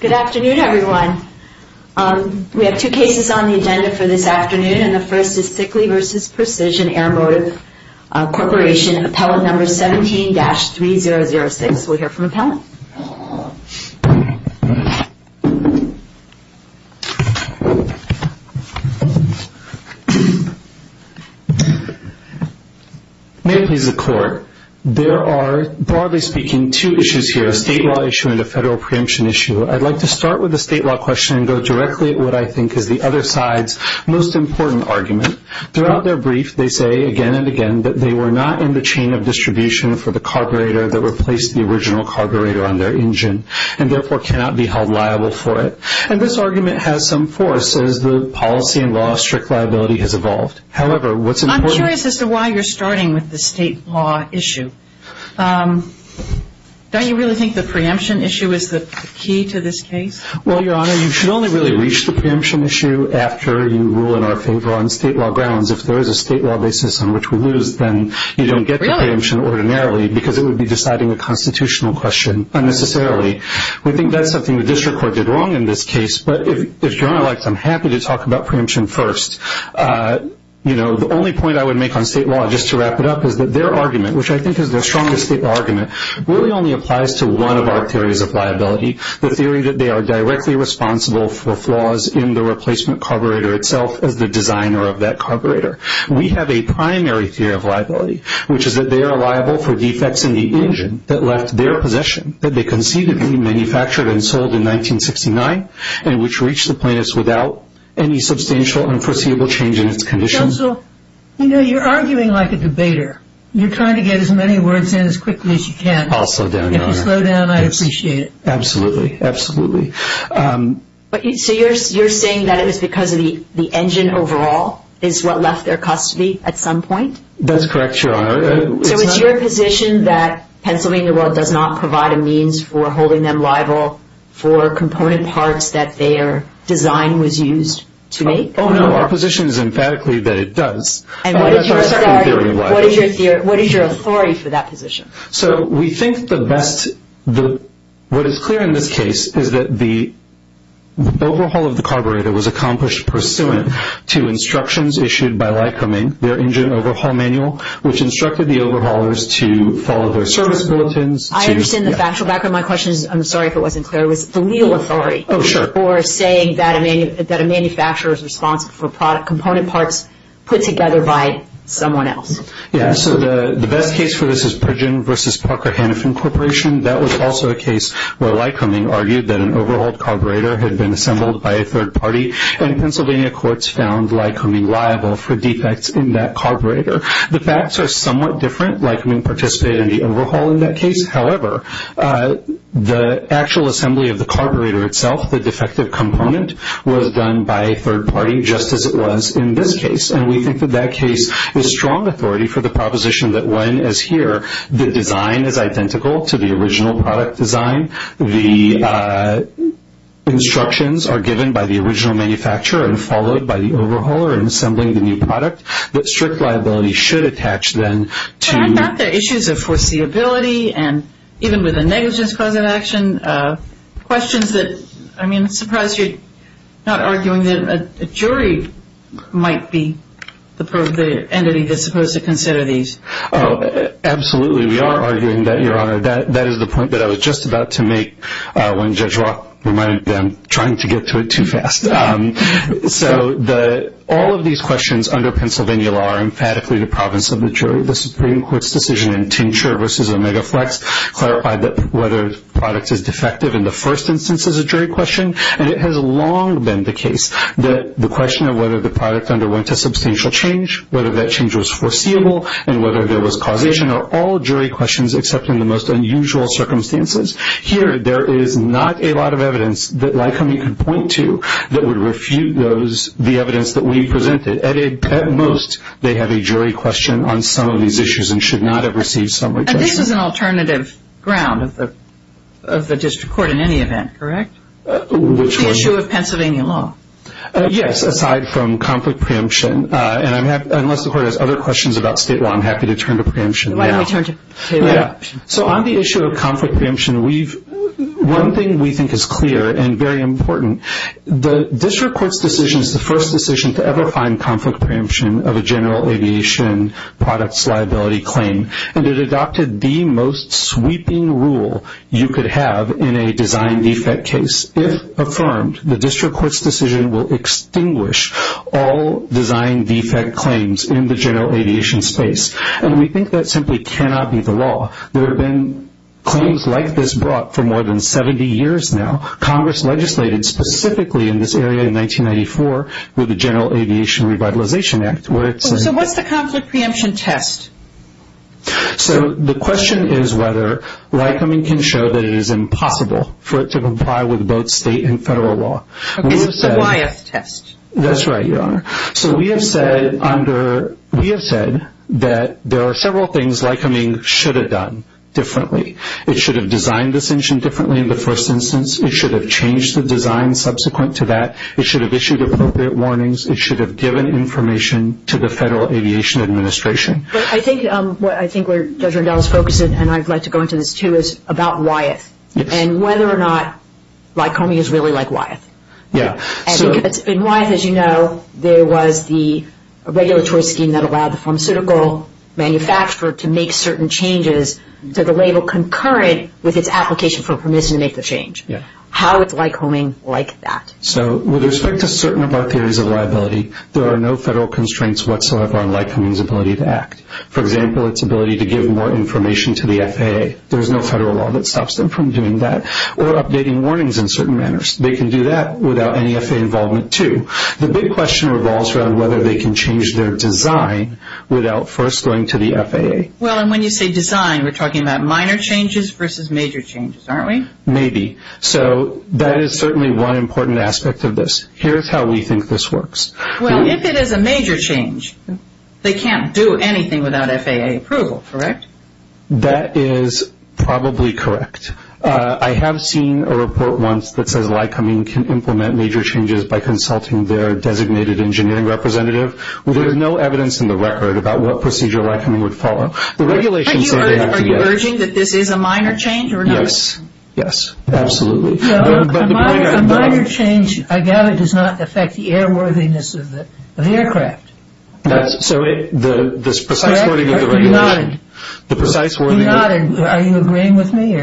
Good afternoon everyone. We have two cases on the agenda for this afternoon and the first is Sikkelee v. Precision Airmotive Corporation, appellate number 17-3006. We'll hear from the appellant. May it please the court, there are broadly speaking two issues here, a state law issue and a federal preemption issue. I'd like to start with the state law question and go directly to what I think is the other side's most important argument. Throughout their brief, they say again and again that they were not in the chain of distribution for the carburetor that replaced the original carburetor on their engine and therefore cannot be held liable for it. And this argument has some force as the policy and law of strict liability has evolved. However, what's important I'm curious as to why you're starting with the state law issue. Don't you really think the preemption issue is the key to this case? Well, Your Honor, you should only really reach the preemption issue after you rule in our favor on state law grounds. If there is a state law basis on which we lose, then you don't get the preemption ordinarily because it would be deciding a constitutional question unnecessarily. We think that's something the district court did wrong in this case, but if Your Honor likes, I'm happy to talk about preemption first. The only point I would make on state law, just to wrap it up, is that their argument, which I think is their strongest state argument, really only applies to one of our theories of liability, the theory that they are directly responsible for flaws in the replacement carburetor itself as the designer of that carburetor. We have a primary theory of liability, which is that they are liable for defects in the engine that left their possession, that they conceivably manufactured and sold in 1969, and which reached the plaintiffs without any substantial unforeseeable change in its conditions. Counsel, you know, you're arguing like a debater. You're trying to get as many words in as quickly as you can. I'll slow down, Your Honor. If you slow down, I'd appreciate it. Absolutely. Absolutely. So you're saying that it was because the engine overall is what left their custody at some point? That's correct, Your Honor. So it's your position that Pennsylvania does not provide a means for holding them liable for component parts that their design was used to make? Oh, no. Our position is emphatically that it does. What is your authority for that position? So we think the best – what is clear in this case is that the overhaul of the carburetor was accomplished pursuant to instructions issued by Lycoming, their engine overhaul manual, which instructed the overhaulers to follow their service bulletins. I understand the factual background. My question is – I'm sorry if it wasn't clear. It was the legal authority. Oh, sure. Or saying that a manufacturer is responsible for component parts put together by someone else. Yeah. So the best case for this is Pridgen v. Parker Hennepin Corporation. That was also a case where Lycoming argued that an overhauled carburetor had been assembled by a third party, and Pennsylvania courts found Lycoming liable for defects in that carburetor. The facts are somewhat different. Lycoming participated in the overhaul in that case. However, the actual assembly of the carburetor itself, the defective component, was done by a third party, just as it was in this case. And we think that that case is strong authority for the proposition that when, as here, the design is identical to the original product design, the instructions are given by the original manufacturer and followed by the overhauler in assembling the new product, that strict liability should attach then to – And even with a negligence cause of action, questions that – I mean, I'm surprised you're not arguing that a jury might be the entity that's supposed to consider these. Oh, absolutely. We are arguing that, Your Honor. That is the point that I was just about to make when Judge Roth reminded me I'm trying to get to it too fast. So all of these questions under Pennsylvania law are emphatically the province of the jury. The Supreme Court's decision in Tincture v. Omega Flex clarified that whether the product is defective in the first instance is a jury question. And it has long been the case that the question of whether the product underwent a substantial change, whether that change was foreseeable, and whether there was causation are all jury questions except in the most unusual circumstances. Here, there is not a lot of evidence that Lycoming could point to that would refute the evidence that we presented. At most, they have a jury question on some of these issues and should not have received some – And this is an alternative ground of the district court in any event, correct? Which one? The issue of Pennsylvania law. Yes, aside from conflict preemption. And unless the court has other questions about state law, I'm happy to turn to preemption now. Why don't we turn to state law? So on the issue of conflict preemption, one thing we think is clear and very important. The district court's decision is the first decision to ever find conflict preemption of a general aviation products liability claim. And it adopted the most sweeping rule you could have in a design defect case. If affirmed, the district court's decision will extinguish all design defect claims in the general aviation space. And we think that simply cannot be the law. There have been claims like this brought for more than 70 years now. Congress legislated specifically in this area in 1994 with the General Aviation Revitalization Act. So what's the conflict preemption test? So the question is whether Lycoming can show that it is impossible for it to comply with both state and federal law. It's the Wyeth test. That's right, Your Honor. So we have said that there are several things Lycoming should have done differently. It should have designed this engine differently in the first instance. It should have changed the design subsequent to that. It should have issued appropriate warnings. It should have given information to the Federal Aviation Administration. I think where Judge Randall is focusing, and I'd like to go into this too, is about Wyeth and whether or not Lycoming is really like Wyeth. Yeah. And Wyeth, as you know, there was the regulatory scheme that allowed the pharmaceutical manufacturer to make certain changes to the label concurrent with its application for permission to make the change. Yeah. How is Lycoming like that? So with respect to certain of our theories of liability, there are no federal constraints whatsoever on Lycoming's ability to act. For example, its ability to give more information to the FAA. There's no federal law that stops them from doing that. Or updating warnings in certain manners. They can do that without any FAA involvement too. The big question revolves around whether they can change their design without first going to the FAA. Well, and when you say design, we're talking about minor changes versus major changes, aren't we? Maybe. So that is certainly one important aspect of this. Here's how we think this works. Well, if it is a major change, they can't do anything without FAA approval, correct? That is probably correct. I have seen a report once that says Lycoming can implement major changes by consulting their designated engineering representative. There is no evidence in the record about what procedure Lycoming would follow. Are you urging that this is a minor change or not? Yes. Yes. Absolutely. A minor change, I gather, does not affect the airworthiness of the aircraft. So this precise wording of the regulation. Are you agreeing with me?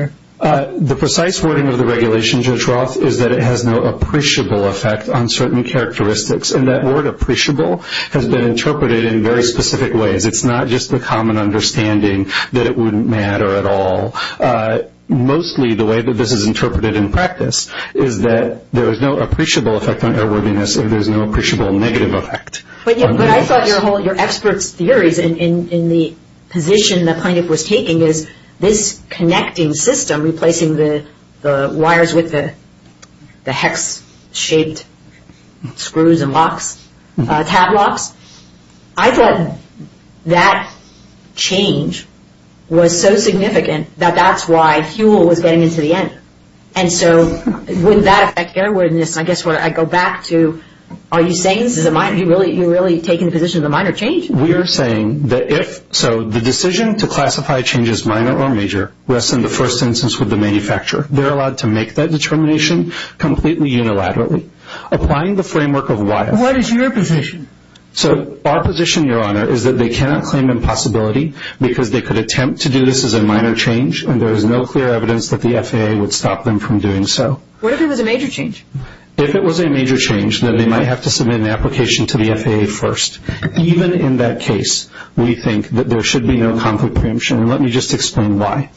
The precise wording of the regulation, Judge Roth, is that it has no appreciable effect on certain characteristics. And that word appreciable has been interpreted in very specific ways. It's not just the common understanding that it wouldn't matter at all. Mostly the way that this is interpreted in practice is that there is no appreciable effect on airworthiness and there is no appreciable negative effect. But I thought your experts' theories in the position the plaintiff was taking is this connecting system, replacing the wires with the hex-shaped screws and locks, tab locks, I thought that change was so significant that that's why fuel was getting into the end. And so wouldn't that affect airworthiness? I guess what I go back to, are you saying this is a minor? Are you really taking the position it's a minor change? We are saying that if so, the decision to classify a change as minor or major rests in the first instance with the manufacturer. They're allowed to make that determination completely unilaterally. Applying the framework of wire. What is your position? So our position, Your Honor, is that they cannot claim impossibility because they could attempt to do this as a minor change and there is no clear evidence that the FAA would stop them from doing so. What if it was a major change? If it was a major change, then they might have to submit an application to the FAA first. Even in that case, we think that there should be no conflict preemption. And let me just explain why.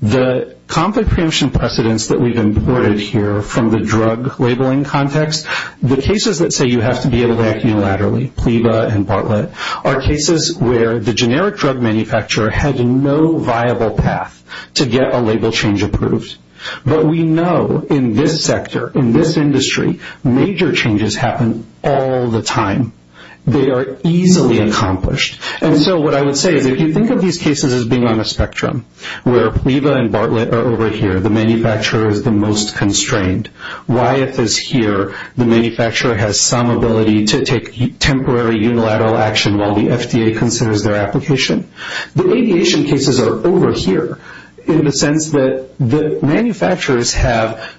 The conflict preemption precedents that we've imported here from the drug labeling context, the cases that say you have to be able to act unilaterally, PLEVA and Bartlett, are cases where the generic drug manufacturer had no viable path to get a label change approved. But we know in this sector, in this industry, major changes happen all the time. They are easily accomplished. And so what I would say is if you think of these cases as being on a spectrum where PLEVA and Bartlett are over here, the manufacturer is the most constrained, Wyeth is here, the manufacturer has some ability to take temporary unilateral action while the FDA considers their application. The aviation cases are over here in the sense that the manufacturers have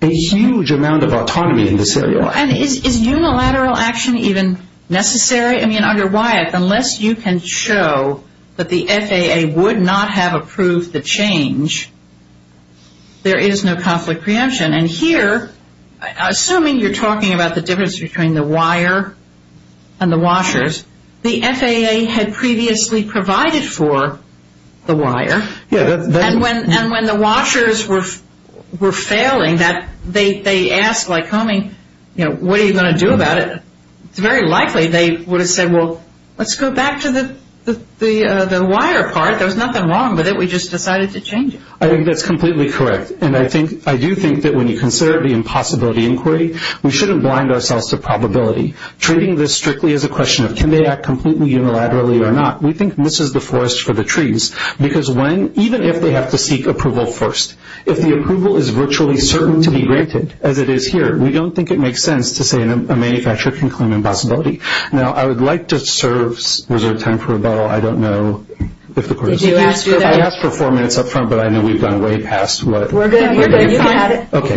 a huge amount of autonomy in this area. And is unilateral action even necessary? I mean, under Wyeth, unless you can show that the FAA would not have approved the change, there is no conflict preemption. And here, assuming you're talking about the difference between the wire and the washers, the FAA had previously provided for the wire. And when the washers were failing, they asked Lycoming, you know, what are you going to do about it? It's very likely they would have said, well, let's go back to the wire part. There was nothing wrong with it. We just decided to change it. I think that's completely correct. And I do think that when you consider the impossibility inquiry, we shouldn't blind ourselves to probability. Treating this strictly as a question of can they act completely unilaterally or not, we think this is the forest for the trees. Because even if they have to seek approval first, if the approval is virtually certain to be granted, as it is here, we don't think it makes sense to say a manufacturer can claim impossibility. Now, I would like to reserve time for rebuttal. I don't know if the court is going to do that. I asked for four minutes up front, but I know we've gone way past what everybody thought. We're good. You can have it. Okay.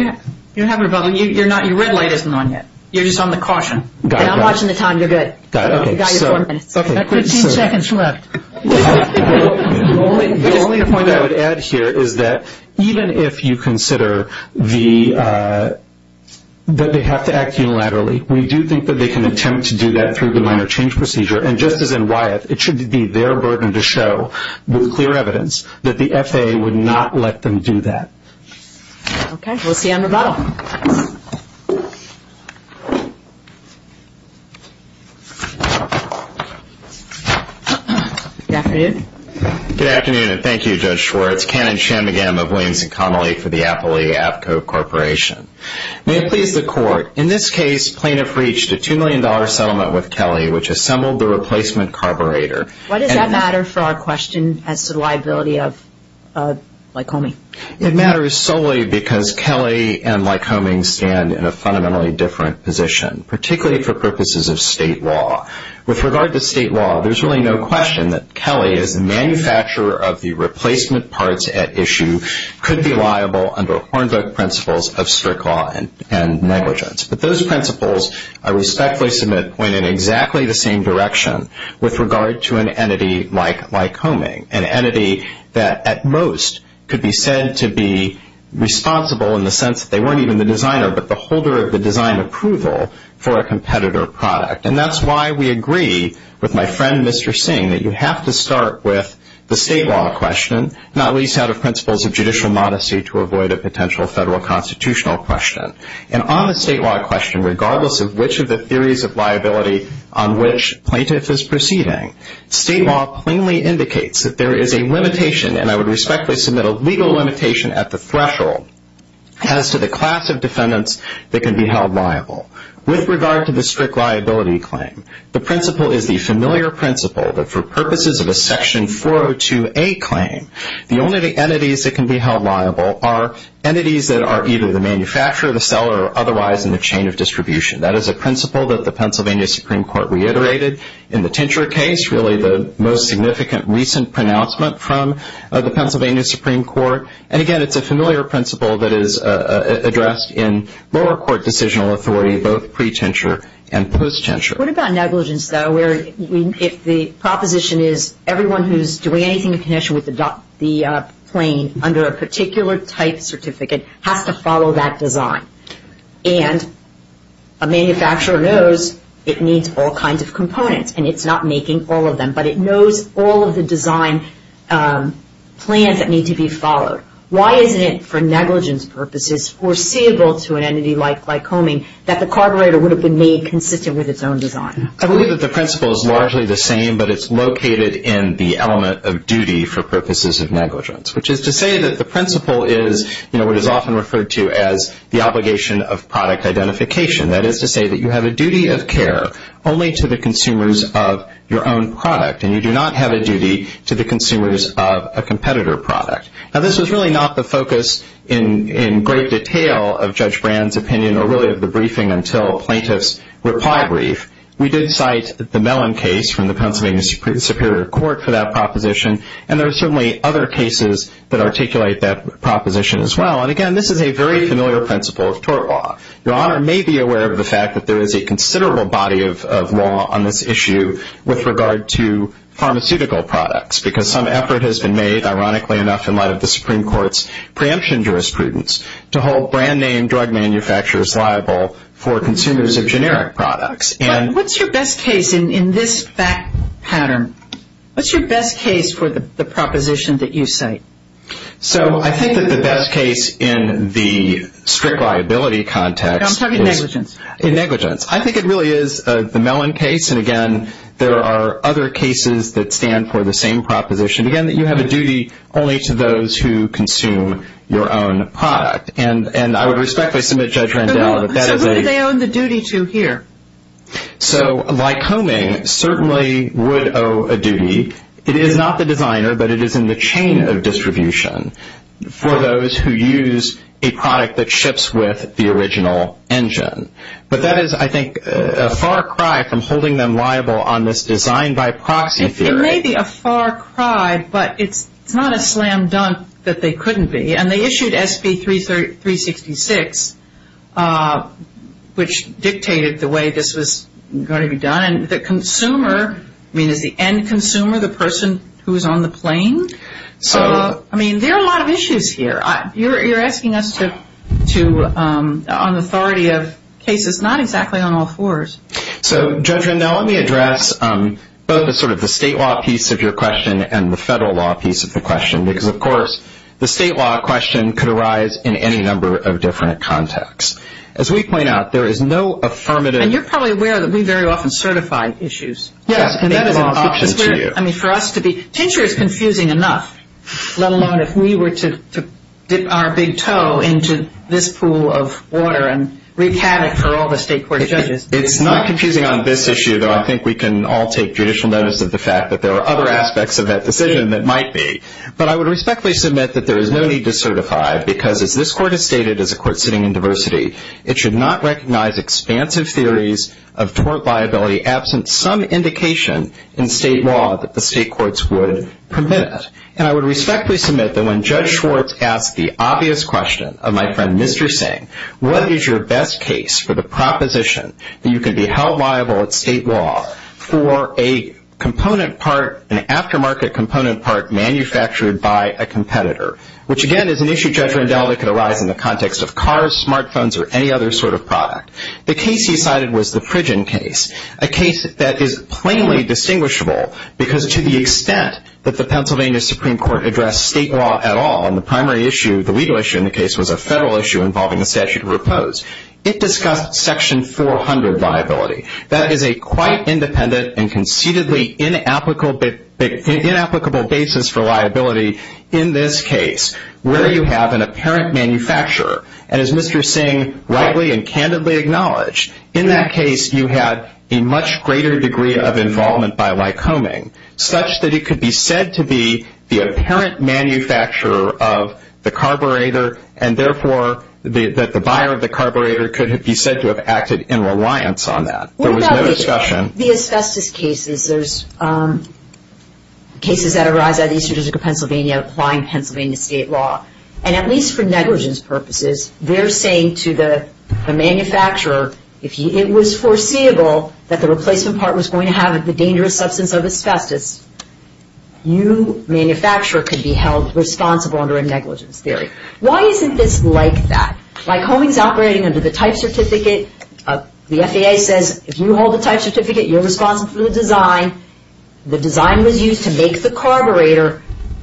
You can have rebuttal. No, you're not. Your red light isn't on yet. You're just on the caution. And I'm watching the time. You're good. You've got your four minutes. Okay. Fifteen seconds left. The only point I would add here is that even if you consider that they have to act unilaterally, we do think that they can attempt to do that through the minor change procedure. And just as in Wyeth, it should be their burden to show with clear evidence that the FAA would not let them do that. Okay. We'll see you on rebuttal. Good afternoon. Good afternoon, and thank you, Judge Schwartz, Canon Shanmugam of Williams & Connolly for the Appalachia Appco Corporation. May it please the Court, in this case, plaintiff reached a $2 million settlement with Kelly, which assembled the replacement carburetor. Why does that matter for our question as to the liability of Lycomie? It matters solely because Kelly and Lycomie stand in a fundamentally different position, particularly for purposes of state law. With regard to state law, there's really no question that Kelly, as the manufacturer of the replacement parts at issue, could be liable under Hornbook principles of strict law and negligence. But those principles, I respectfully submit, point in exactly the same direction with regard to an entity like Lycomie, an entity that at most could be said to be responsible in the sense that they weren't even the designer but the holder of the design approval for a competitor product. And that's why we agree with my friend, Mr. Singh, that you have to start with the state law question, not least out of principles of judicial modesty to avoid a potential federal constitutional question. And on the state law question, regardless of which of the theories of liability on which plaintiff is proceeding, state law plainly indicates that there is a limitation, and I would respectfully submit a legal limitation at the threshold, as to the class of defendants that can be held liable. With regard to the strict liability claim, the principle is the familiar principle that for purposes of a Section 402A claim, the only entities that can be held liable are entities that are either the manufacturer, the seller, or otherwise in the chain of distribution. That is a principle that the Pennsylvania Supreme Court reiterated in the Tincture case, really the most significant recent pronouncement from the Pennsylvania Supreme Court. And again, it's a familiar principle that is addressed in lower court decisional authority, both pre-Tincture and post-Tincture. What about negligence, though, where if the proposition is everyone who's doing anything in connection with the claim under a particular type certificate has to follow that design? And a manufacturer knows it needs all kinds of components, and it's not making all of them, but it knows all of the design plans that need to be followed. Why isn't it for negligence purposes foreseeable to an entity like Lycoming that the carburetor would have been made consistent with its own design? I believe that the principle is largely the same, but it's located in the element of duty for purposes of negligence, which is to say that the principle is what is often referred to as the obligation of product identification. That is to say that you have a duty of care only to the consumers of your own product, and you do not have a duty to the consumers of a competitor product. Now, this was really not the focus in great detail of Judge Brand's opinion or really of the briefing until plaintiff's reply brief. We did cite the Mellon case from the Pennsylvania Superior Court for that proposition, and there are certainly other cases that articulate that proposition as well. And, again, this is a very familiar principle of tort law. Your Honor may be aware of the fact that there is a considerable body of law on this issue with regard to pharmaceutical products because some effort has been made, ironically enough, in light of the Supreme Court's preemption jurisprudence to hold brand-name drug manufacturers liable for consumers of generic products. But what's your best case in this fact pattern? What's your best case for the proposition that you cite? So I think that the best case in the strict liability context is... I'm talking negligence. Negligence. I think it really is the Mellon case, and, again, there are other cases that stand for the same proposition, again, that you have a duty only to those who consume your own product. And I would respectfully submit Judge Randell that that is a... So Lycoming certainly would owe a duty. It is not the designer, but it is in the chain of distribution for those who use a product that ships with the original engine. But that is, I think, a far cry from holding them liable on this design-by-proxy theory. It may be a far cry, but it's not a slam dunk that they couldn't be. And they issued SB 366, which dictated the way this was going to be done. And the consumer, I mean, is the end consumer the person who is on the plane? So, I mean, there are a lot of issues here. You're asking us to... on authority of cases not exactly on all fours. So, Judge Randell, let me address both the sort of the state law piece of your question and the federal law piece of the question, because, of course, the state law question could arise in any number of different contexts. As we point out, there is no affirmative... And you're probably aware that we very often certify issues. Yes, and that is an exception to you. I mean, for us to be... Tincture is confusing enough, let alone if we were to dip our big toe into this pool of water and recat it for all the state court judges. It's not confusing on this issue, though. I think we can all take judicial notice of the fact that there are other aspects of that decision that might be. But I would respectfully submit that there is no need to certify, because as this court has stated, as a court sitting in diversity, it should not recognize expansive theories of tort liability absent some indication in state law that the state courts would permit it. And I would respectfully submit that when Judge Schwartz asked the obvious question of my friend Mr. Singh, what is your best case for the proposition that you can be held liable at state law for a component part, an aftermarket component part manufactured by a competitor, which again is an issue, Judge Rendell, that could arise in the context of cars, smart phones, or any other sort of product. The case he cited was the Pridgen case, a case that is plainly distinguishable, because to the extent that the Pennsylvania Supreme Court addressed state law at all, and the primary issue, the legal issue in the case, was a federal issue involving a statute of repose, it discussed Section 400 liability. That is a quite independent and conceitedly inapplicable basis for liability in this case, where you have an apparent manufacturer, and as Mr. Singh rightly and candidly acknowledged, in that case you had a much greater degree of involvement by Lycoming, such that it could be said to be the apparent manufacturer of the carburetor, and therefore that the buyer of the carburetor could be said to have acted in reliance on that. There was no discussion. The asbestos cases, there's cases that arise out of the history of Pennsylvania applying Pennsylvania state law, and at least for negligence purposes, they're saying to the manufacturer it was foreseeable that the replacement part was going to have the dangerous substance of asbestos. You, manufacturer, could be held responsible under a negligence theory. Why isn't this like that? Lycoming's operating under the type certificate. The FAA says if you hold the type certificate, you're responsible for the design. The design was used to make the carburetor.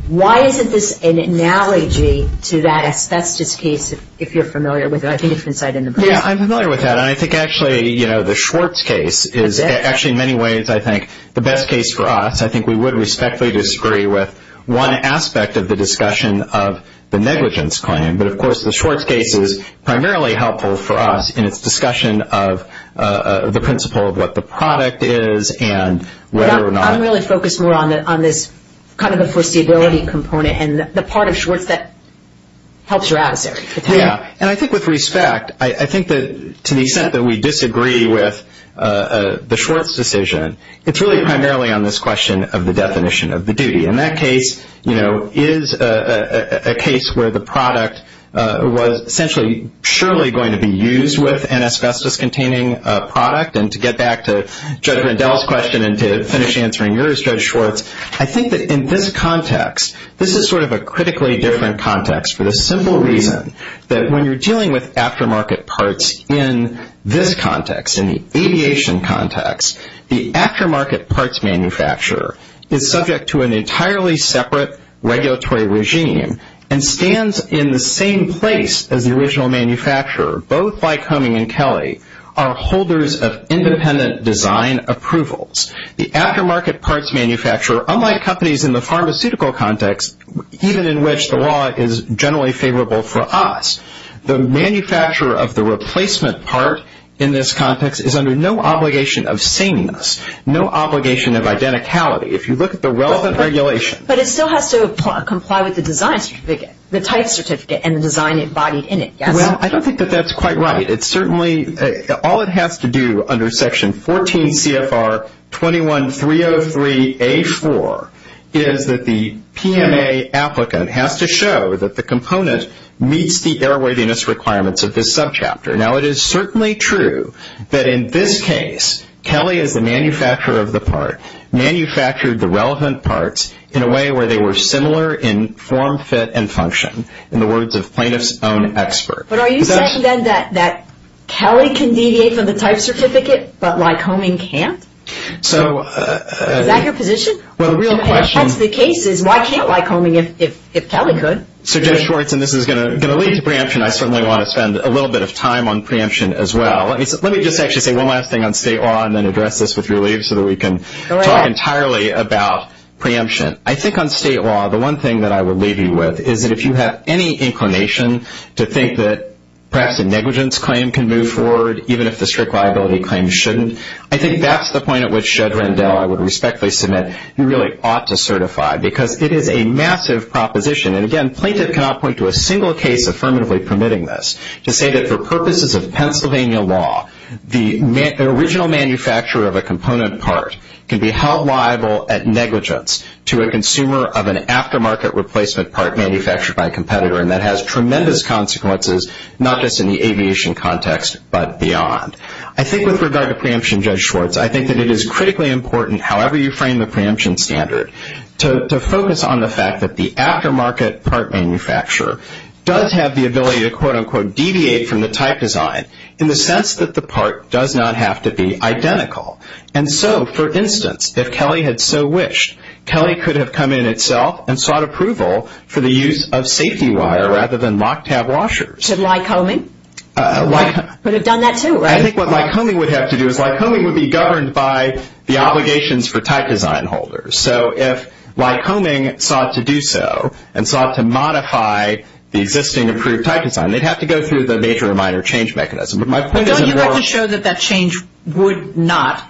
Why isn't this an analogy to that asbestos case, if you're familiar with it? I think it's been cited in the book. Yeah, I'm familiar with that, and I think actually the Schwartz case is actually in many ways, I think, the best case for us. I think we would respectfully disagree with one aspect of the discussion of the negligence claim, but, of course, the Schwartz case is primarily helpful for us in its discussion of the principle of what the product is and whether or not. Yeah, I'm really focused more on this kind of the foreseeability component and the part of Schwartz that helps your adversary. Yeah, and I think with respect, I think that to the extent that we disagree with the Schwartz decision, it's really primarily on this question of the definition of the duty. In that case, you know, is a case where the product was essentially surely going to be used with an asbestos-containing product? And to get back to Judge Rendell's question and to finish answering yours, Judge Schwartz, I think that in this context, this is sort of a critically different context for the simple reason that when you're dealing with aftermarket parts in this context, in the aviation context, the aftermarket parts manufacturer is subject to an entirely separate regulatory regime and stands in the same place as the original manufacturer, both like Homing and Kelly, are holders of independent design approvals. The aftermarket parts manufacturer, unlike companies in the pharmaceutical context, even in which the law is generally favorable for us, the manufacturer of the replacement part in this context is under no obligation of sameness, no obligation of identicality. If you look at the relevant regulation. But it still has to comply with the design certificate, the type certificate, and the design embodied in it, yes? Well, I don't think that that's quite right. It certainly, all it has to do under Section 14 CFR 21-303-A-4 is that the PMA applicant has to show that the component meets the airworthiness requirements of this subchapter. Now, it is certainly true that in this case, Kelly is the manufacturer of the part, manufactured the relevant parts in a way where they were similar in form, fit, and function, in the words of plaintiff's own expert. But are you saying then that Kelly can deviate from the type certificate, but like Homing can't? Is that your position? Well, the real question. If that's the case, why can't like Homing if Kelly could? So, Judge Schwartz, and this is going to lead to preemption, I certainly want to spend a little bit of time on preemption as well. Let me just actually say one last thing on state law and then address this with your leave so that we can talk entirely about preemption. I think on state law, the one thing that I would leave you with is that if you have any inclination to think that perhaps a negligence claim can move forward, even if the strict liability claim shouldn't, I think that's the point at which, Judge Rendell, I would respectfully submit you really ought to certify because it is a massive proposition. And again, plaintiff cannot point to a single case affirmatively permitting this, to say that for purposes of Pennsylvania law, the original manufacturer of a component part can be held liable at negligence to a consumer of an aftermarket replacement part manufactured by a competitor. And that has tremendous consequences, not just in the aviation context, but beyond. I think with regard to preemption, Judge Schwartz, I think that it is critically important, however you frame the preemption standard, to focus on the fact that the aftermarket part manufacturer does have the ability to quote, unquote, deviate from the type design in the sense that the part does not have to be identical. And so, for instance, if Kelly had so wished, Kelly could have come in itself and sought approval for the use of safety wire rather than lock tab washers. Should Lycoming? Lycoming. Would have done that too, right? I think what Lycoming would have to do is Lycoming would be governed by the obligations for type design holders. So if Lycoming sought to do so and sought to modify the existing approved type design, they'd have to go through the major or minor change mechanism. Don't you like to show that that change would not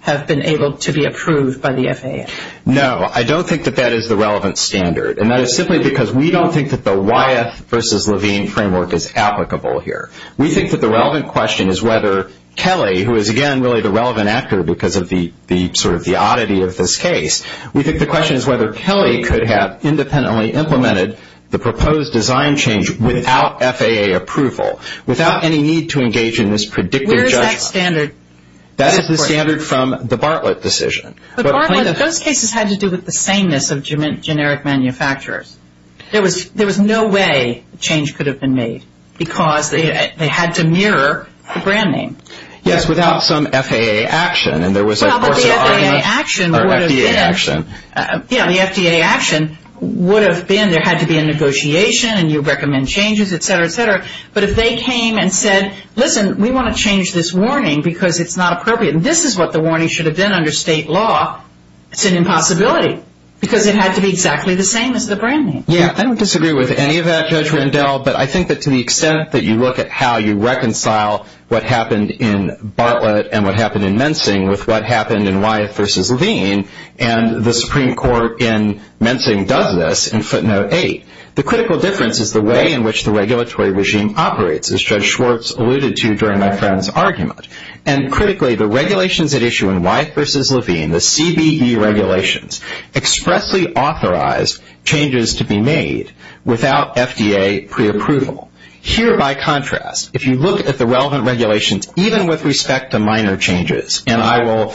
have been able to be approved by the FAA? No. I don't think that that is the relevant standard, and that is simply because we don't think that the Wyeth versus Levine framework is applicable here. We think that the relevant question is whether Kelly, who is, again, really the relevant actor because of the sort of the oddity of this case, we think the question is whether Kelly could have independently implemented the proposed design change without FAA approval, without any need to engage in this predictive judgment. Where is that standard? That is the standard from the Bartlett decision. But Bartlett, those cases had to do with the sameness of generic manufacturers. There was no way a change could have been made because they had to mirror the brand name. Yes, without some FAA action. Well, but the FAA action would have been. Or FDA action. Yeah, the FDA action would have been. There had to be a negotiation, and you recommend changes, et cetera, et cetera. But if they came and said, listen, we want to change this warning because it's not appropriate, and this is what the warning should have been under state law, it's an impossibility because it had to be exactly the same as the brand name. Yeah, I don't disagree with any of that, Judge Rendell, but I think that to the extent that you look at how you reconcile what happened in Bartlett and what happened in Mensing with what happened in Wyeth v. Levine, and the Supreme Court in Mensing does this in footnote 8, the critical difference is the way in which the regulatory regime operates, as Judge Schwartz alluded to during my friend's argument. And critically, the regulations at issue in Wyeth v. Levine, the CBE regulations, expressly authorized changes to be made without FDA preapproval. Here, by contrast, if you look at the relevant regulations, even with respect to minor changes, and I will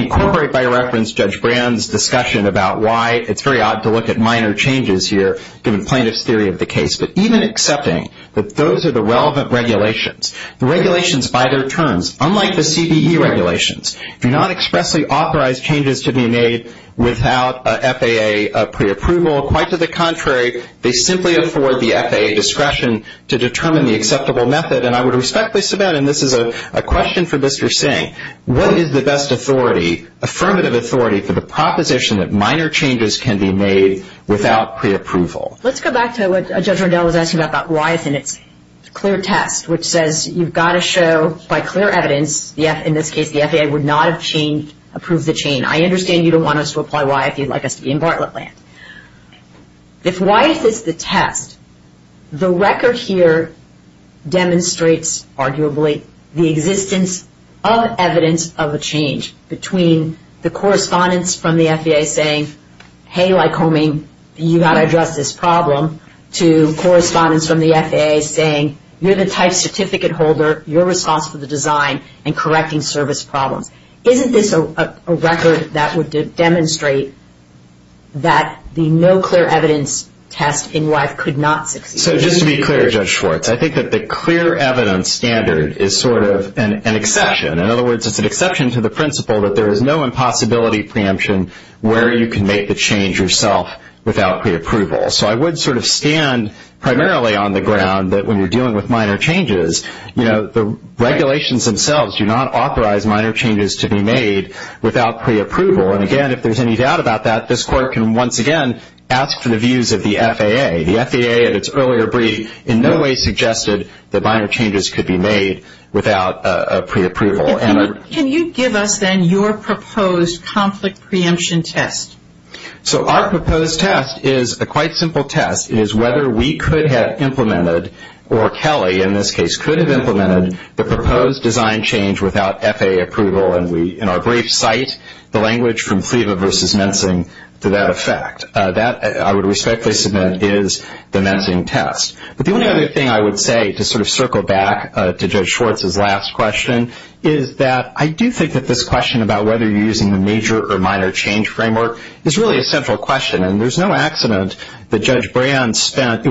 incorporate by reference Judge Brand's discussion about why it's very odd to look at minor changes here, given plaintiff's theory of the case. But even accepting that those are the relevant regulations, the regulations by their terms, unlike the CBE regulations, do not expressly authorize changes to be made without FAA preapproval. Quite to the contrary, they simply afford the FAA discretion to determine the acceptable method. And I would respectfully submit, and this is a question for Mr. Singh, what is the best authority, affirmative authority, for the proposition that minor changes can be made without preapproval? Let's go back to what Judge Rendell was asking about Wyeth and its clear test, which says you've got to show by clear evidence, in this case, the FAA would not have approved the change. I understand you don't want us to apply Wyeth. You'd like us to be in Bartlett land. If Wyeth is the test, the record here demonstrates, arguably, the existence of evidence of a change between the correspondence from the FAA saying, hey, Lycoming, you've got to address this problem, to correspondence from the FAA saying, you're the type certificate holder, you're responsible for the design and correcting service problems. Isn't this a record that would demonstrate that the no clear evidence test in Wyeth could not succeed? So just to be clear, Judge Schwartz, I think that the clear evidence standard is sort of an exception. In other words, it's an exception to the principle that there is no impossibility preemption where you can make the change yourself without preapproval. So I would sort of stand primarily on the ground that when you're dealing with minor changes, you know, the regulations themselves do not authorize minor changes to be made without preapproval. And again, if there's any doubt about that, this Court can once again ask for the views of the FAA. The FAA, at its earlier brief, in no way suggested that minor changes could be made without a preapproval. Can you give us, then, your proposed conflict preemption test? So our proposed test is a quite simple test. It is whether we could have implemented, or Kelly, in this case, could have implemented the proposed design change without FAA approval. And we, in our brief, cite the language from FLEVA versus Mensing to that effect. That, I would respectfully submit, is the Mensing test. But the only other thing I would say to sort of circle back to Judge Schwartz's last question is that I do think that this question about whether you're using the major or minor change framework is really a central question. And there's no accident that Judge Brand spent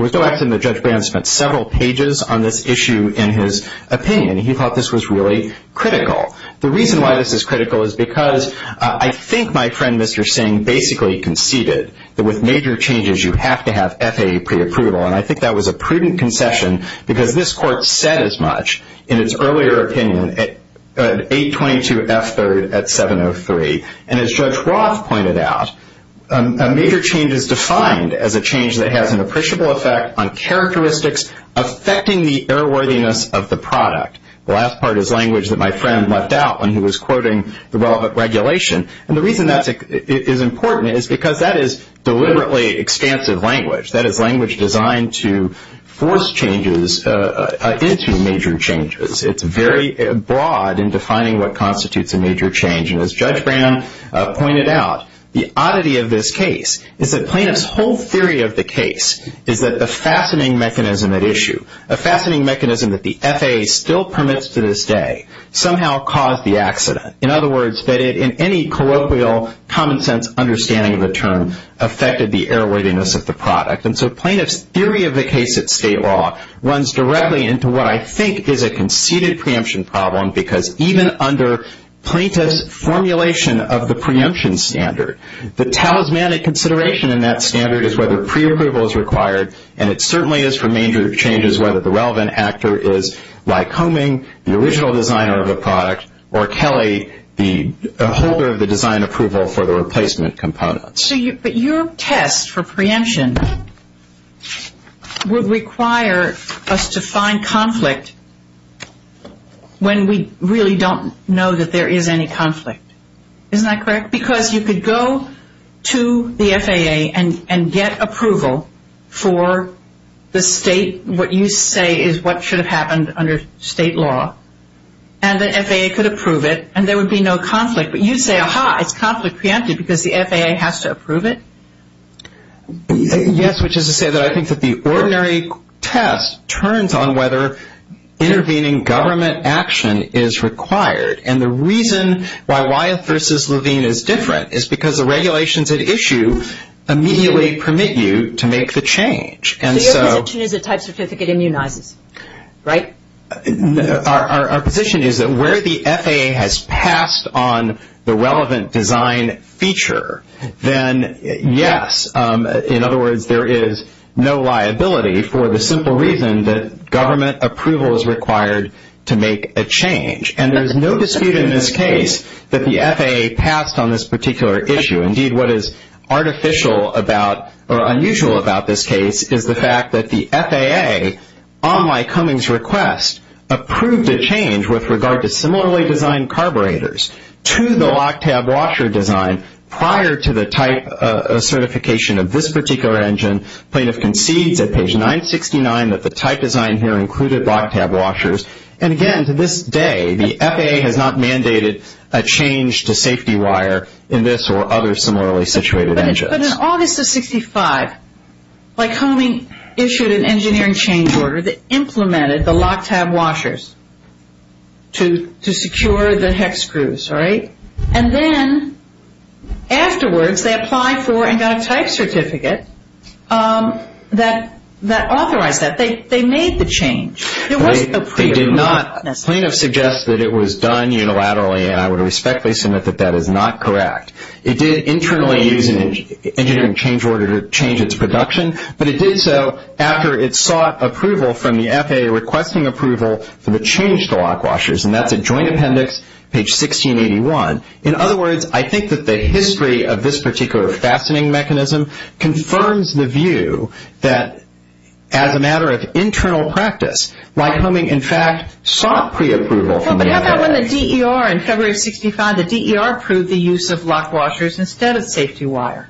several pages on this issue in his opinion. He thought this was really critical. The reason why this is critical is because I think my friend, Mr. Singh, basically conceded that with major changes, you have to have FAA preapproval. And I think that was a prudent concession because this Court said as much in its earlier opinion. 822F3rd at 703. And as Judge Roth pointed out, a major change is defined as a change that has an appreciable effect on characteristics affecting the error-worthiness of the product. The last part is language that my friend left out when he was quoting the relevant regulation. And the reason that is important is because that is deliberately expansive language. That is language designed to force changes into major changes. It's very broad in defining what constitutes a major change. And as Judge Brand pointed out, the oddity of this case is that plaintiff's whole theory of the case is that the fastening mechanism at issue, a fastening mechanism that the FAA still permits to this day, somehow caused the accident. In other words, that it, in any colloquial, common-sense understanding of the term, affected the error-worthiness of the product. And so plaintiff's theory of the case at state law runs directly into what I think is a conceded preemption problem because even under plaintiff's formulation of the preemption standard, the talismanic consideration in that standard is whether preapproval is required. And it certainly is for major changes whether the relevant actor is, like Homing, the original designer of the product, or Kelly, the holder of the design approval for the replacement components. But your test for preemption would require us to find conflict when we really don't know that there is any conflict. Isn't that correct? Because you could go to the FAA and get approval for the state, what you say is what should have happened under state law, and the FAA could approve it, and there would be no conflict. But you say, aha, it's conflict preempted because the FAA has to approve it? Yes, which is to say that I think that the ordinary test turns on whether intervening government action is required. And the reason why Wyeth v. Levine is different is because the regulations at issue immediately permit you to make the change. So your position is a type certificate immunizes, right? Our position is that where the FAA has passed on the relevant design feature, then yes, in other words, there is no liability for the simple reason that government approval is required to make a change. And there is no dispute in this case that the FAA passed on this particular issue. Indeed, what is artificial about or unusual about this case is the fact that the FAA, on my Cummings request, approved a change with regard to similarly designed carburetors to the lock-tab washer design prior to the type certification of this particular engine. Plaintiff concedes at page 969 that the type design here included lock-tab washers. And again, to this day, the FAA has not mandated a change to safety wire in this or other similarly situated engines. But in August of 65, Lycoming issued an engineering change order that implemented the lock-tab washers to secure the hex screws, right? And then afterwards, they applied for and got a type certificate that authorized that. They made the change. They did not. Plaintiff suggests that it was done unilaterally, and I would respectfully submit that that is not correct. It did internally use an engineering change order to change its production, but it did so after it sought approval from the FAA requesting approval for the change to lock washers. And that's a joint appendix, page 1681. In other words, I think that the history of this particular fastening mechanism confirms the view that as a matter of internal practice, Lycoming, in fact, sought preapproval from the FAA. But how about when the DER in February of 65, the DER approved the use of lock washers instead of safety wire?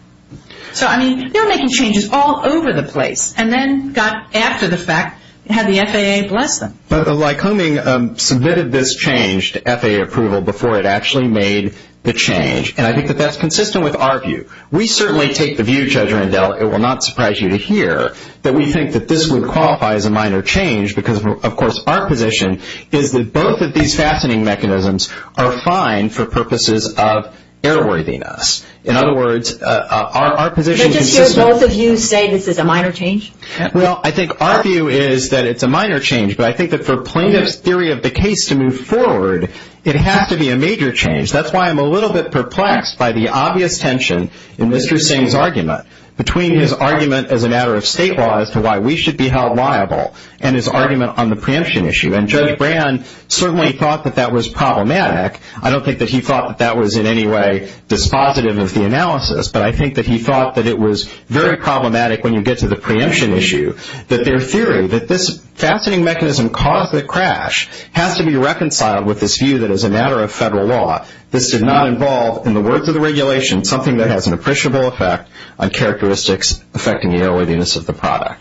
So, I mean, they were making changes all over the place and then got after the fact, had the FAA bless them. Lycoming submitted this change to FAA approval before it actually made the change, and I think that that's consistent with our view. We certainly take the view, Judge Randell, it will not surprise you to hear, that we think that this would qualify as a minor change because, of course, our position is that both of these fastening mechanisms are fine for purposes of airworthiness. In other words, our position is consistent. Can I just hear both of you say this is a minor change? Well, I think our view is that it's a minor change, but I think that for plaintiff's theory of the case to move forward, it has to be a major change. That's why I'm a little bit perplexed by the obvious tension in Mr. Singh's argument, between his argument as a matter of state law as to why we should be held liable and his argument on the preemption issue. And Judge Brand certainly thought that that was problematic. I don't think that he thought that that was in any way dispositive of the analysis, but I think that he thought that it was very problematic when you get to the preemption issue, that their theory, that this fastening mechanism caused the crash, has to be reconciled with this view that as a matter of federal law this did not involve, in the words of the regulation, something that has an appreciable effect on characteristics affecting the airworthiness of the product.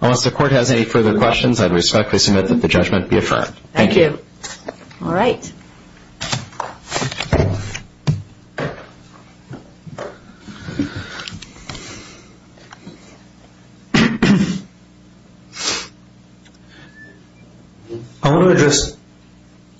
Unless the Court has any further questions, I respectfully submit that the judgment be affirmed. Thank you. All right. Thank you. I want to address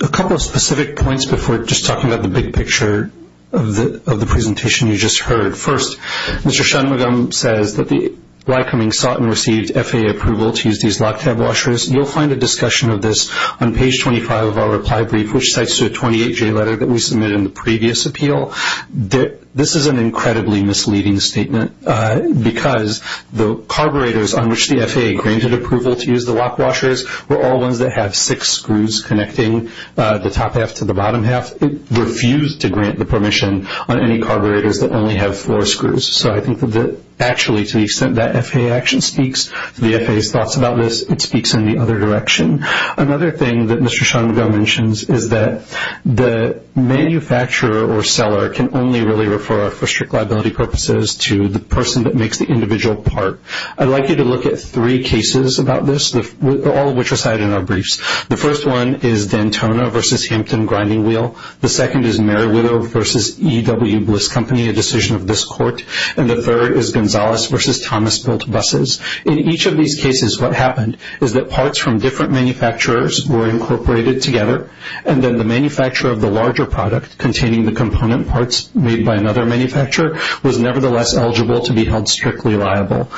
a couple of specific points before just talking about the big picture of the presentation you just heard. First, Mr. Shanmugam says that the Lycoming sought and received FAA approval to use these lock-tab washers. You'll find a discussion of this on page 25 of our reply brief, which cites the 28-J letter that we submitted in the previous appeal. This is an incredibly misleading statement, because the carburetors on which the FAA granted approval to use the lock washers were all ones that have six screws connecting the top half to the bottom half. It refused to grant the permission on any carburetors that only have four screws. So I think that actually to the extent that FAA action speaks to the FAA's thoughts about this, it speaks in the other direction. Another thing that Mr. Shanmugam mentions is that the manufacturer or seller can only really refer, for strict liability purposes, to the person that makes the individual part. I'd like you to look at three cases about this, all of which are cited in our briefs. The first one is Dantona v. Hampton Grinding Wheel. The second is Meriwido v. E.W. Bliss Company, a decision of this Court. And the third is Gonzalez v. Thomas Built Buses. In each of these cases, what happened is that parts from different manufacturers were incorporated together, and then the manufacturer of the larger product containing the component parts made by another manufacturer was nevertheless eligible to be held strictly liable.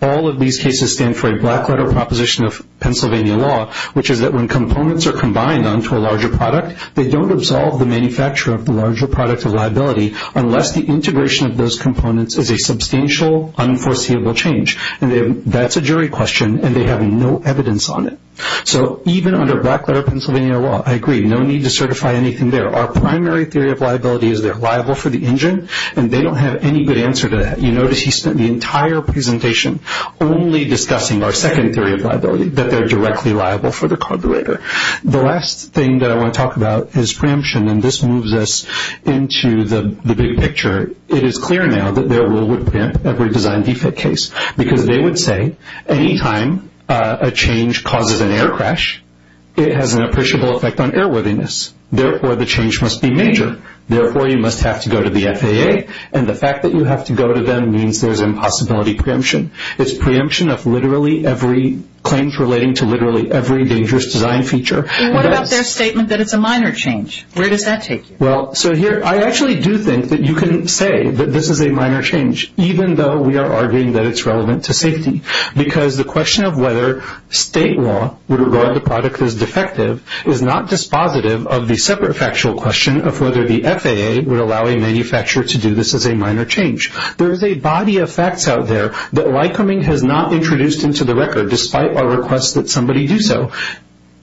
All of these cases stand for a black-letter proposition of Pennsylvania law, which is that when components are combined onto a larger product, they don't absolve the manufacturer of the larger product of liability unless the integration of those components is a substantial, unforeseeable change. That's a jury question, and they have no evidence on it. So even under black-letter Pennsylvania law, I agree, no need to certify anything there. Our primary theory of liability is they're liable for the engine, and they don't have any good answer to that. You notice he spent the entire presentation only discussing our second theory of liability, that they're directly liable for the carburetor. The last thing that I want to talk about is preemption, and this moves us into the big picture. It is clear now that their rule would preempt every design defect case, because they would say any time a change causes an air crash, it has an appreciable effect on airworthiness. Therefore, the change must be major. Therefore, you must have to go to the FAA, and the fact that you have to go to them means there's impossibility preemption. It's preemption of literally every claim relating to literally every dangerous design feature. What about their statement that it's a minor change? Where does that take you? I actually do think that you can say that this is a minor change, even though we are arguing that it's relevant to safety, because the question of whether state law would regard the product as defective is not dispositive of the separate factual question of whether the FAA would allow a manufacturer to do this as a minor change. There is a body of facts out there that Lycoming has not introduced into the record, despite our request that somebody do so.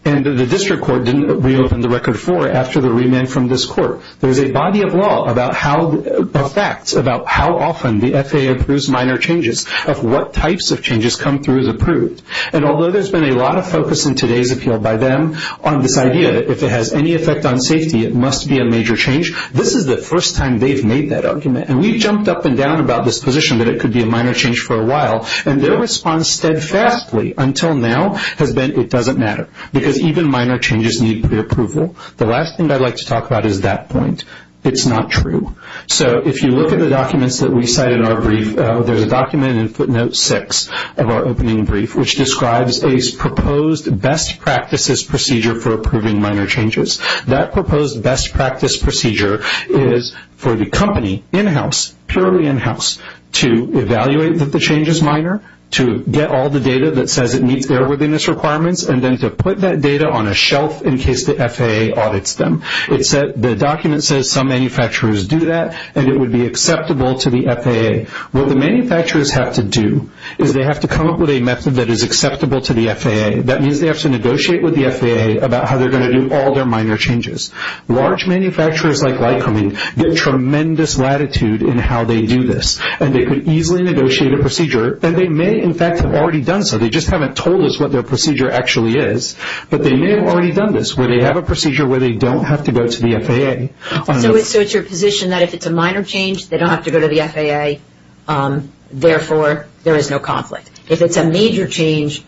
And the district court didn't reopen the record for it after the remand from this court. There's a body of law, of facts, about how often the FAA approves minor changes, of what types of changes come through as approved. And although there's been a lot of focus in today's appeal by them on this idea that if it has any effect on safety, it must be a major change, this is the first time they've made that argument. And we've jumped up and down about this position that it could be a minor change for a while, and their response steadfastly until now has been it doesn't matter, because even minor changes need preapproval. The last thing I'd like to talk about is that point. It's not true. So if you look at the documents that we cite in our brief, there's a document in footnote six of our opening brief, which describes a proposed best practices procedure for approving minor changes. That proposed best practice procedure is for the company in-house, purely in-house, to evaluate that the change is minor, to get all the data that says it meets their readiness requirements, and then to put that data on a shelf in case the FAA audits them. The document says some manufacturers do that, and it would be acceptable to the FAA. What the manufacturers have to do is they have to come up with a method that is acceptable to the FAA. That means they have to negotiate with the FAA about how they're going to do all their minor changes. Large manufacturers like Lycoming get tremendous latitude in how they do this, and they could easily negotiate a procedure, and they may, in fact, have already done so. They just haven't told us what their procedure actually is, but they may have already done this, where they have a procedure where they don't have to go to the FAA. So it's your position that if it's a minor change, they don't have to go to the FAA, therefore there is no conflict. If it's a major change,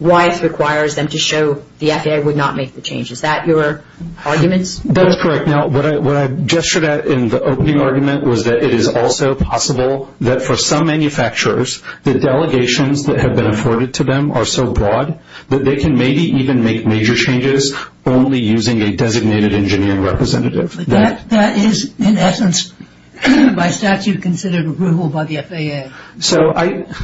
WISE requires them to show the FAA would not make the change. Is that your argument? That's correct. Now, what I gestured at in the opening argument was that it is also possible that for some manufacturers, the delegations that have been afforded to them are so broad that they can maybe even make major changes only using a designated engineering representative. But that is, in essence, by statute considered approval by the FAA.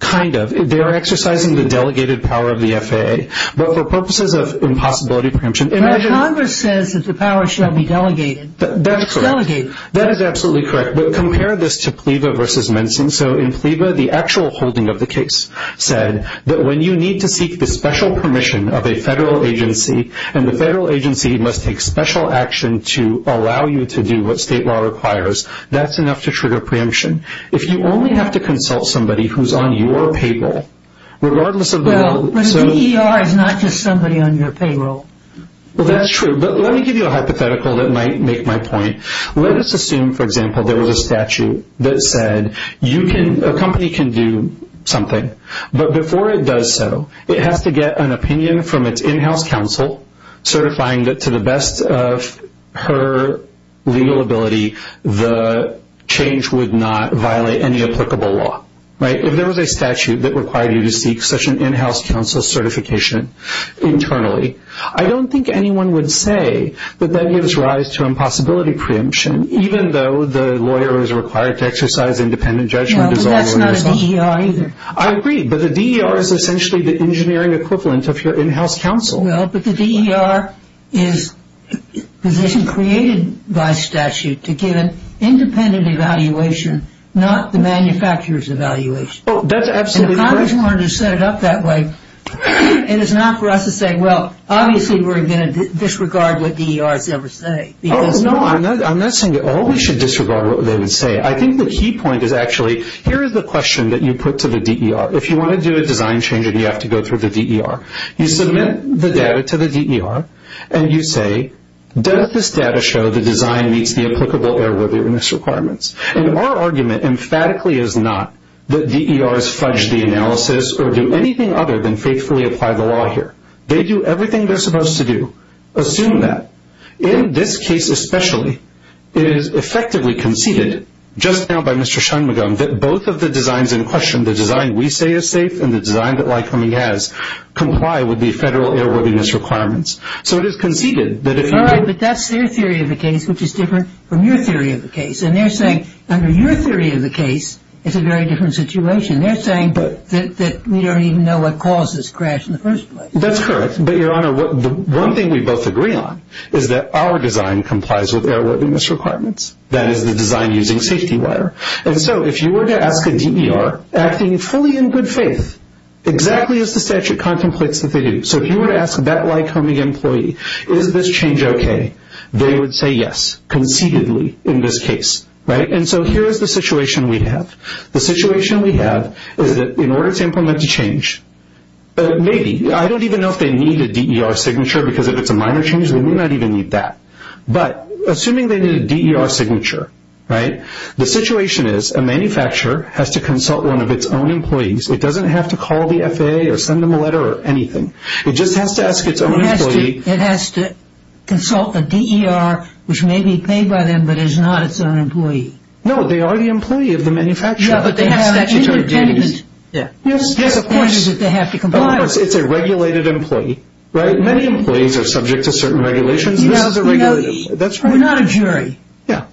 Kind of. They are exercising the delegated power of the FAA. But for purposes of impossibility preemption, imagine- But Congress says that the power shall be delegated. That's correct. It's delegated. That is absolutely correct. But compare this to PLEVA versus Mensing. So in PLEVA, the actual holding of the case said that when you need to seek the special permission of a federal agency, and the federal agency must take special action to allow you to do what state law requires, that's enough to trigger preemption. If you only have to consult somebody who's on your payroll, regardless of- Well, but an EER is not just somebody on your payroll. Well, that's true. But let me give you a hypothetical that might make my point. Let us assume, for example, there was a statute that said a company can do something. But before it does so, it has to get an opinion from its in-house counsel certifying that to the best of her legal ability, the change would not violate any applicable law. If there was a statute that required you to seek such an in-house counsel certification internally, I don't think anyone would say that that gives rise to impossibility preemption, even though the lawyer is required to exercise independent judgment. But that's not an EER either. I agree. But the EER is essentially the engineering equivalent of your in-house counsel. Well, but the EER is a position created by statute to give an independent evaluation, not the manufacturer's evaluation. Oh, that's absolutely correct. And if Congress wanted to set it up that way, it is not for us to say, well, obviously we're going to disregard what the EERs ever say because- No, I'm not saying that all we should disregard what they would say. I think the key point is actually, here is the question that you put to the EER. If you want to do a design change and you have to go through the EER, you submit the data to the EER, and you say, does this data show the design meets the applicable error-awareness requirements? And our argument emphatically is not that DERs fudge the analysis or do anything other than faithfully apply the law here. They do everything they're supposed to do. Assume that. In this case especially, it is effectively conceded, just now by Mr. Schoenmugam, that both of the designs in question, the design we say is safe and the design that Lycoming has comply with the federal error-awareness requirements. So it is conceded that if you- All right, but that's their theory of the case, which is different from your theory of the case. And they're saying, under your theory of the case, it's a very different situation. They're saying that we don't even know what caused this crash in the first place. That's correct. But, Your Honor, the one thing we both agree on is that our design complies with error-awareness requirements. That is the design using safety wire. And so if you were to ask a DER, acting fully in good faith, exactly as the statute contemplates that they do. So if you were to ask that Lycoming employee, is this change okay? They would say yes, concededly, in this case. Right? And so here is the situation we have. The situation we have is that in order to implement a change, maybe- I don't even know if they need a DER signature because if it's a minor change, they may not even need that. But assuming they need a DER signature, right? The situation is a manufacturer has to consult one of its own employees. It doesn't have to call the FAA or send them a letter or anything. It just has to ask its own employee- It has to consult a DER, which may be paid by them, but is not its own employee. No, they are the employee of the manufacturer. Yeah, but they have a statutory duty. Yes, yes, of course. The point is that they have to comply with it. Of course. It's a regulated employee. Right? Many employees are subject to certain regulations. You know, you're not a jury. Yeah.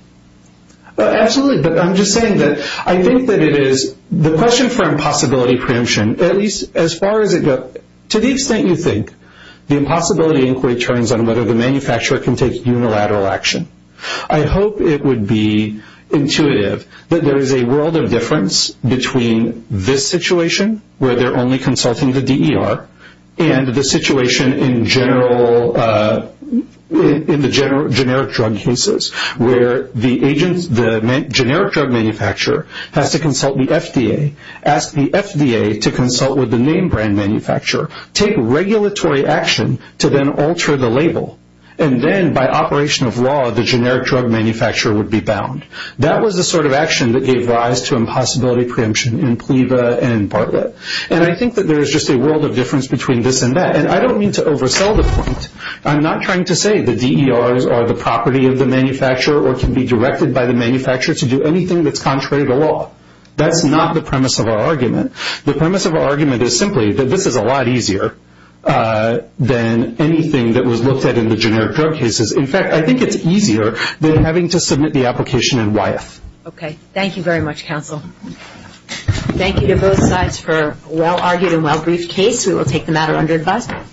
Absolutely, but I'm just saying that I think that it is- The question for impossibility preemption, at least as far as it goes, to the extent you think the impossibility inquiry turns on whether the manufacturer can take unilateral action, I hope it would be intuitive that there is a world of difference between this situation, where they're only consulting the DER, and the situation in the generic drug cases, where the generic drug manufacturer has to consult the FDA, ask the FDA to consult with the name brand manufacturer, take regulatory action to then alter the label, and then by operation of law, the generic drug manufacturer would be bound. That was the sort of action that gave rise to impossibility preemption in PLEVA and in Bartlett. And I think that there is just a world of difference between this and that. And I don't mean to oversell the point. I'm not trying to say the DERs are the property of the manufacturer or can be directed by the manufacturer to do anything that's contrary to law. That's not the premise of our argument. The premise of our argument is simply that this is a lot easier than anything that was looked at in the generic drug cases. In fact, I think it's easier than having to submit the application in YF. Okay. Thank you very much, counsel. Thank you to both sides for a well-argued and well-briefed case. We will take the matter under advisory.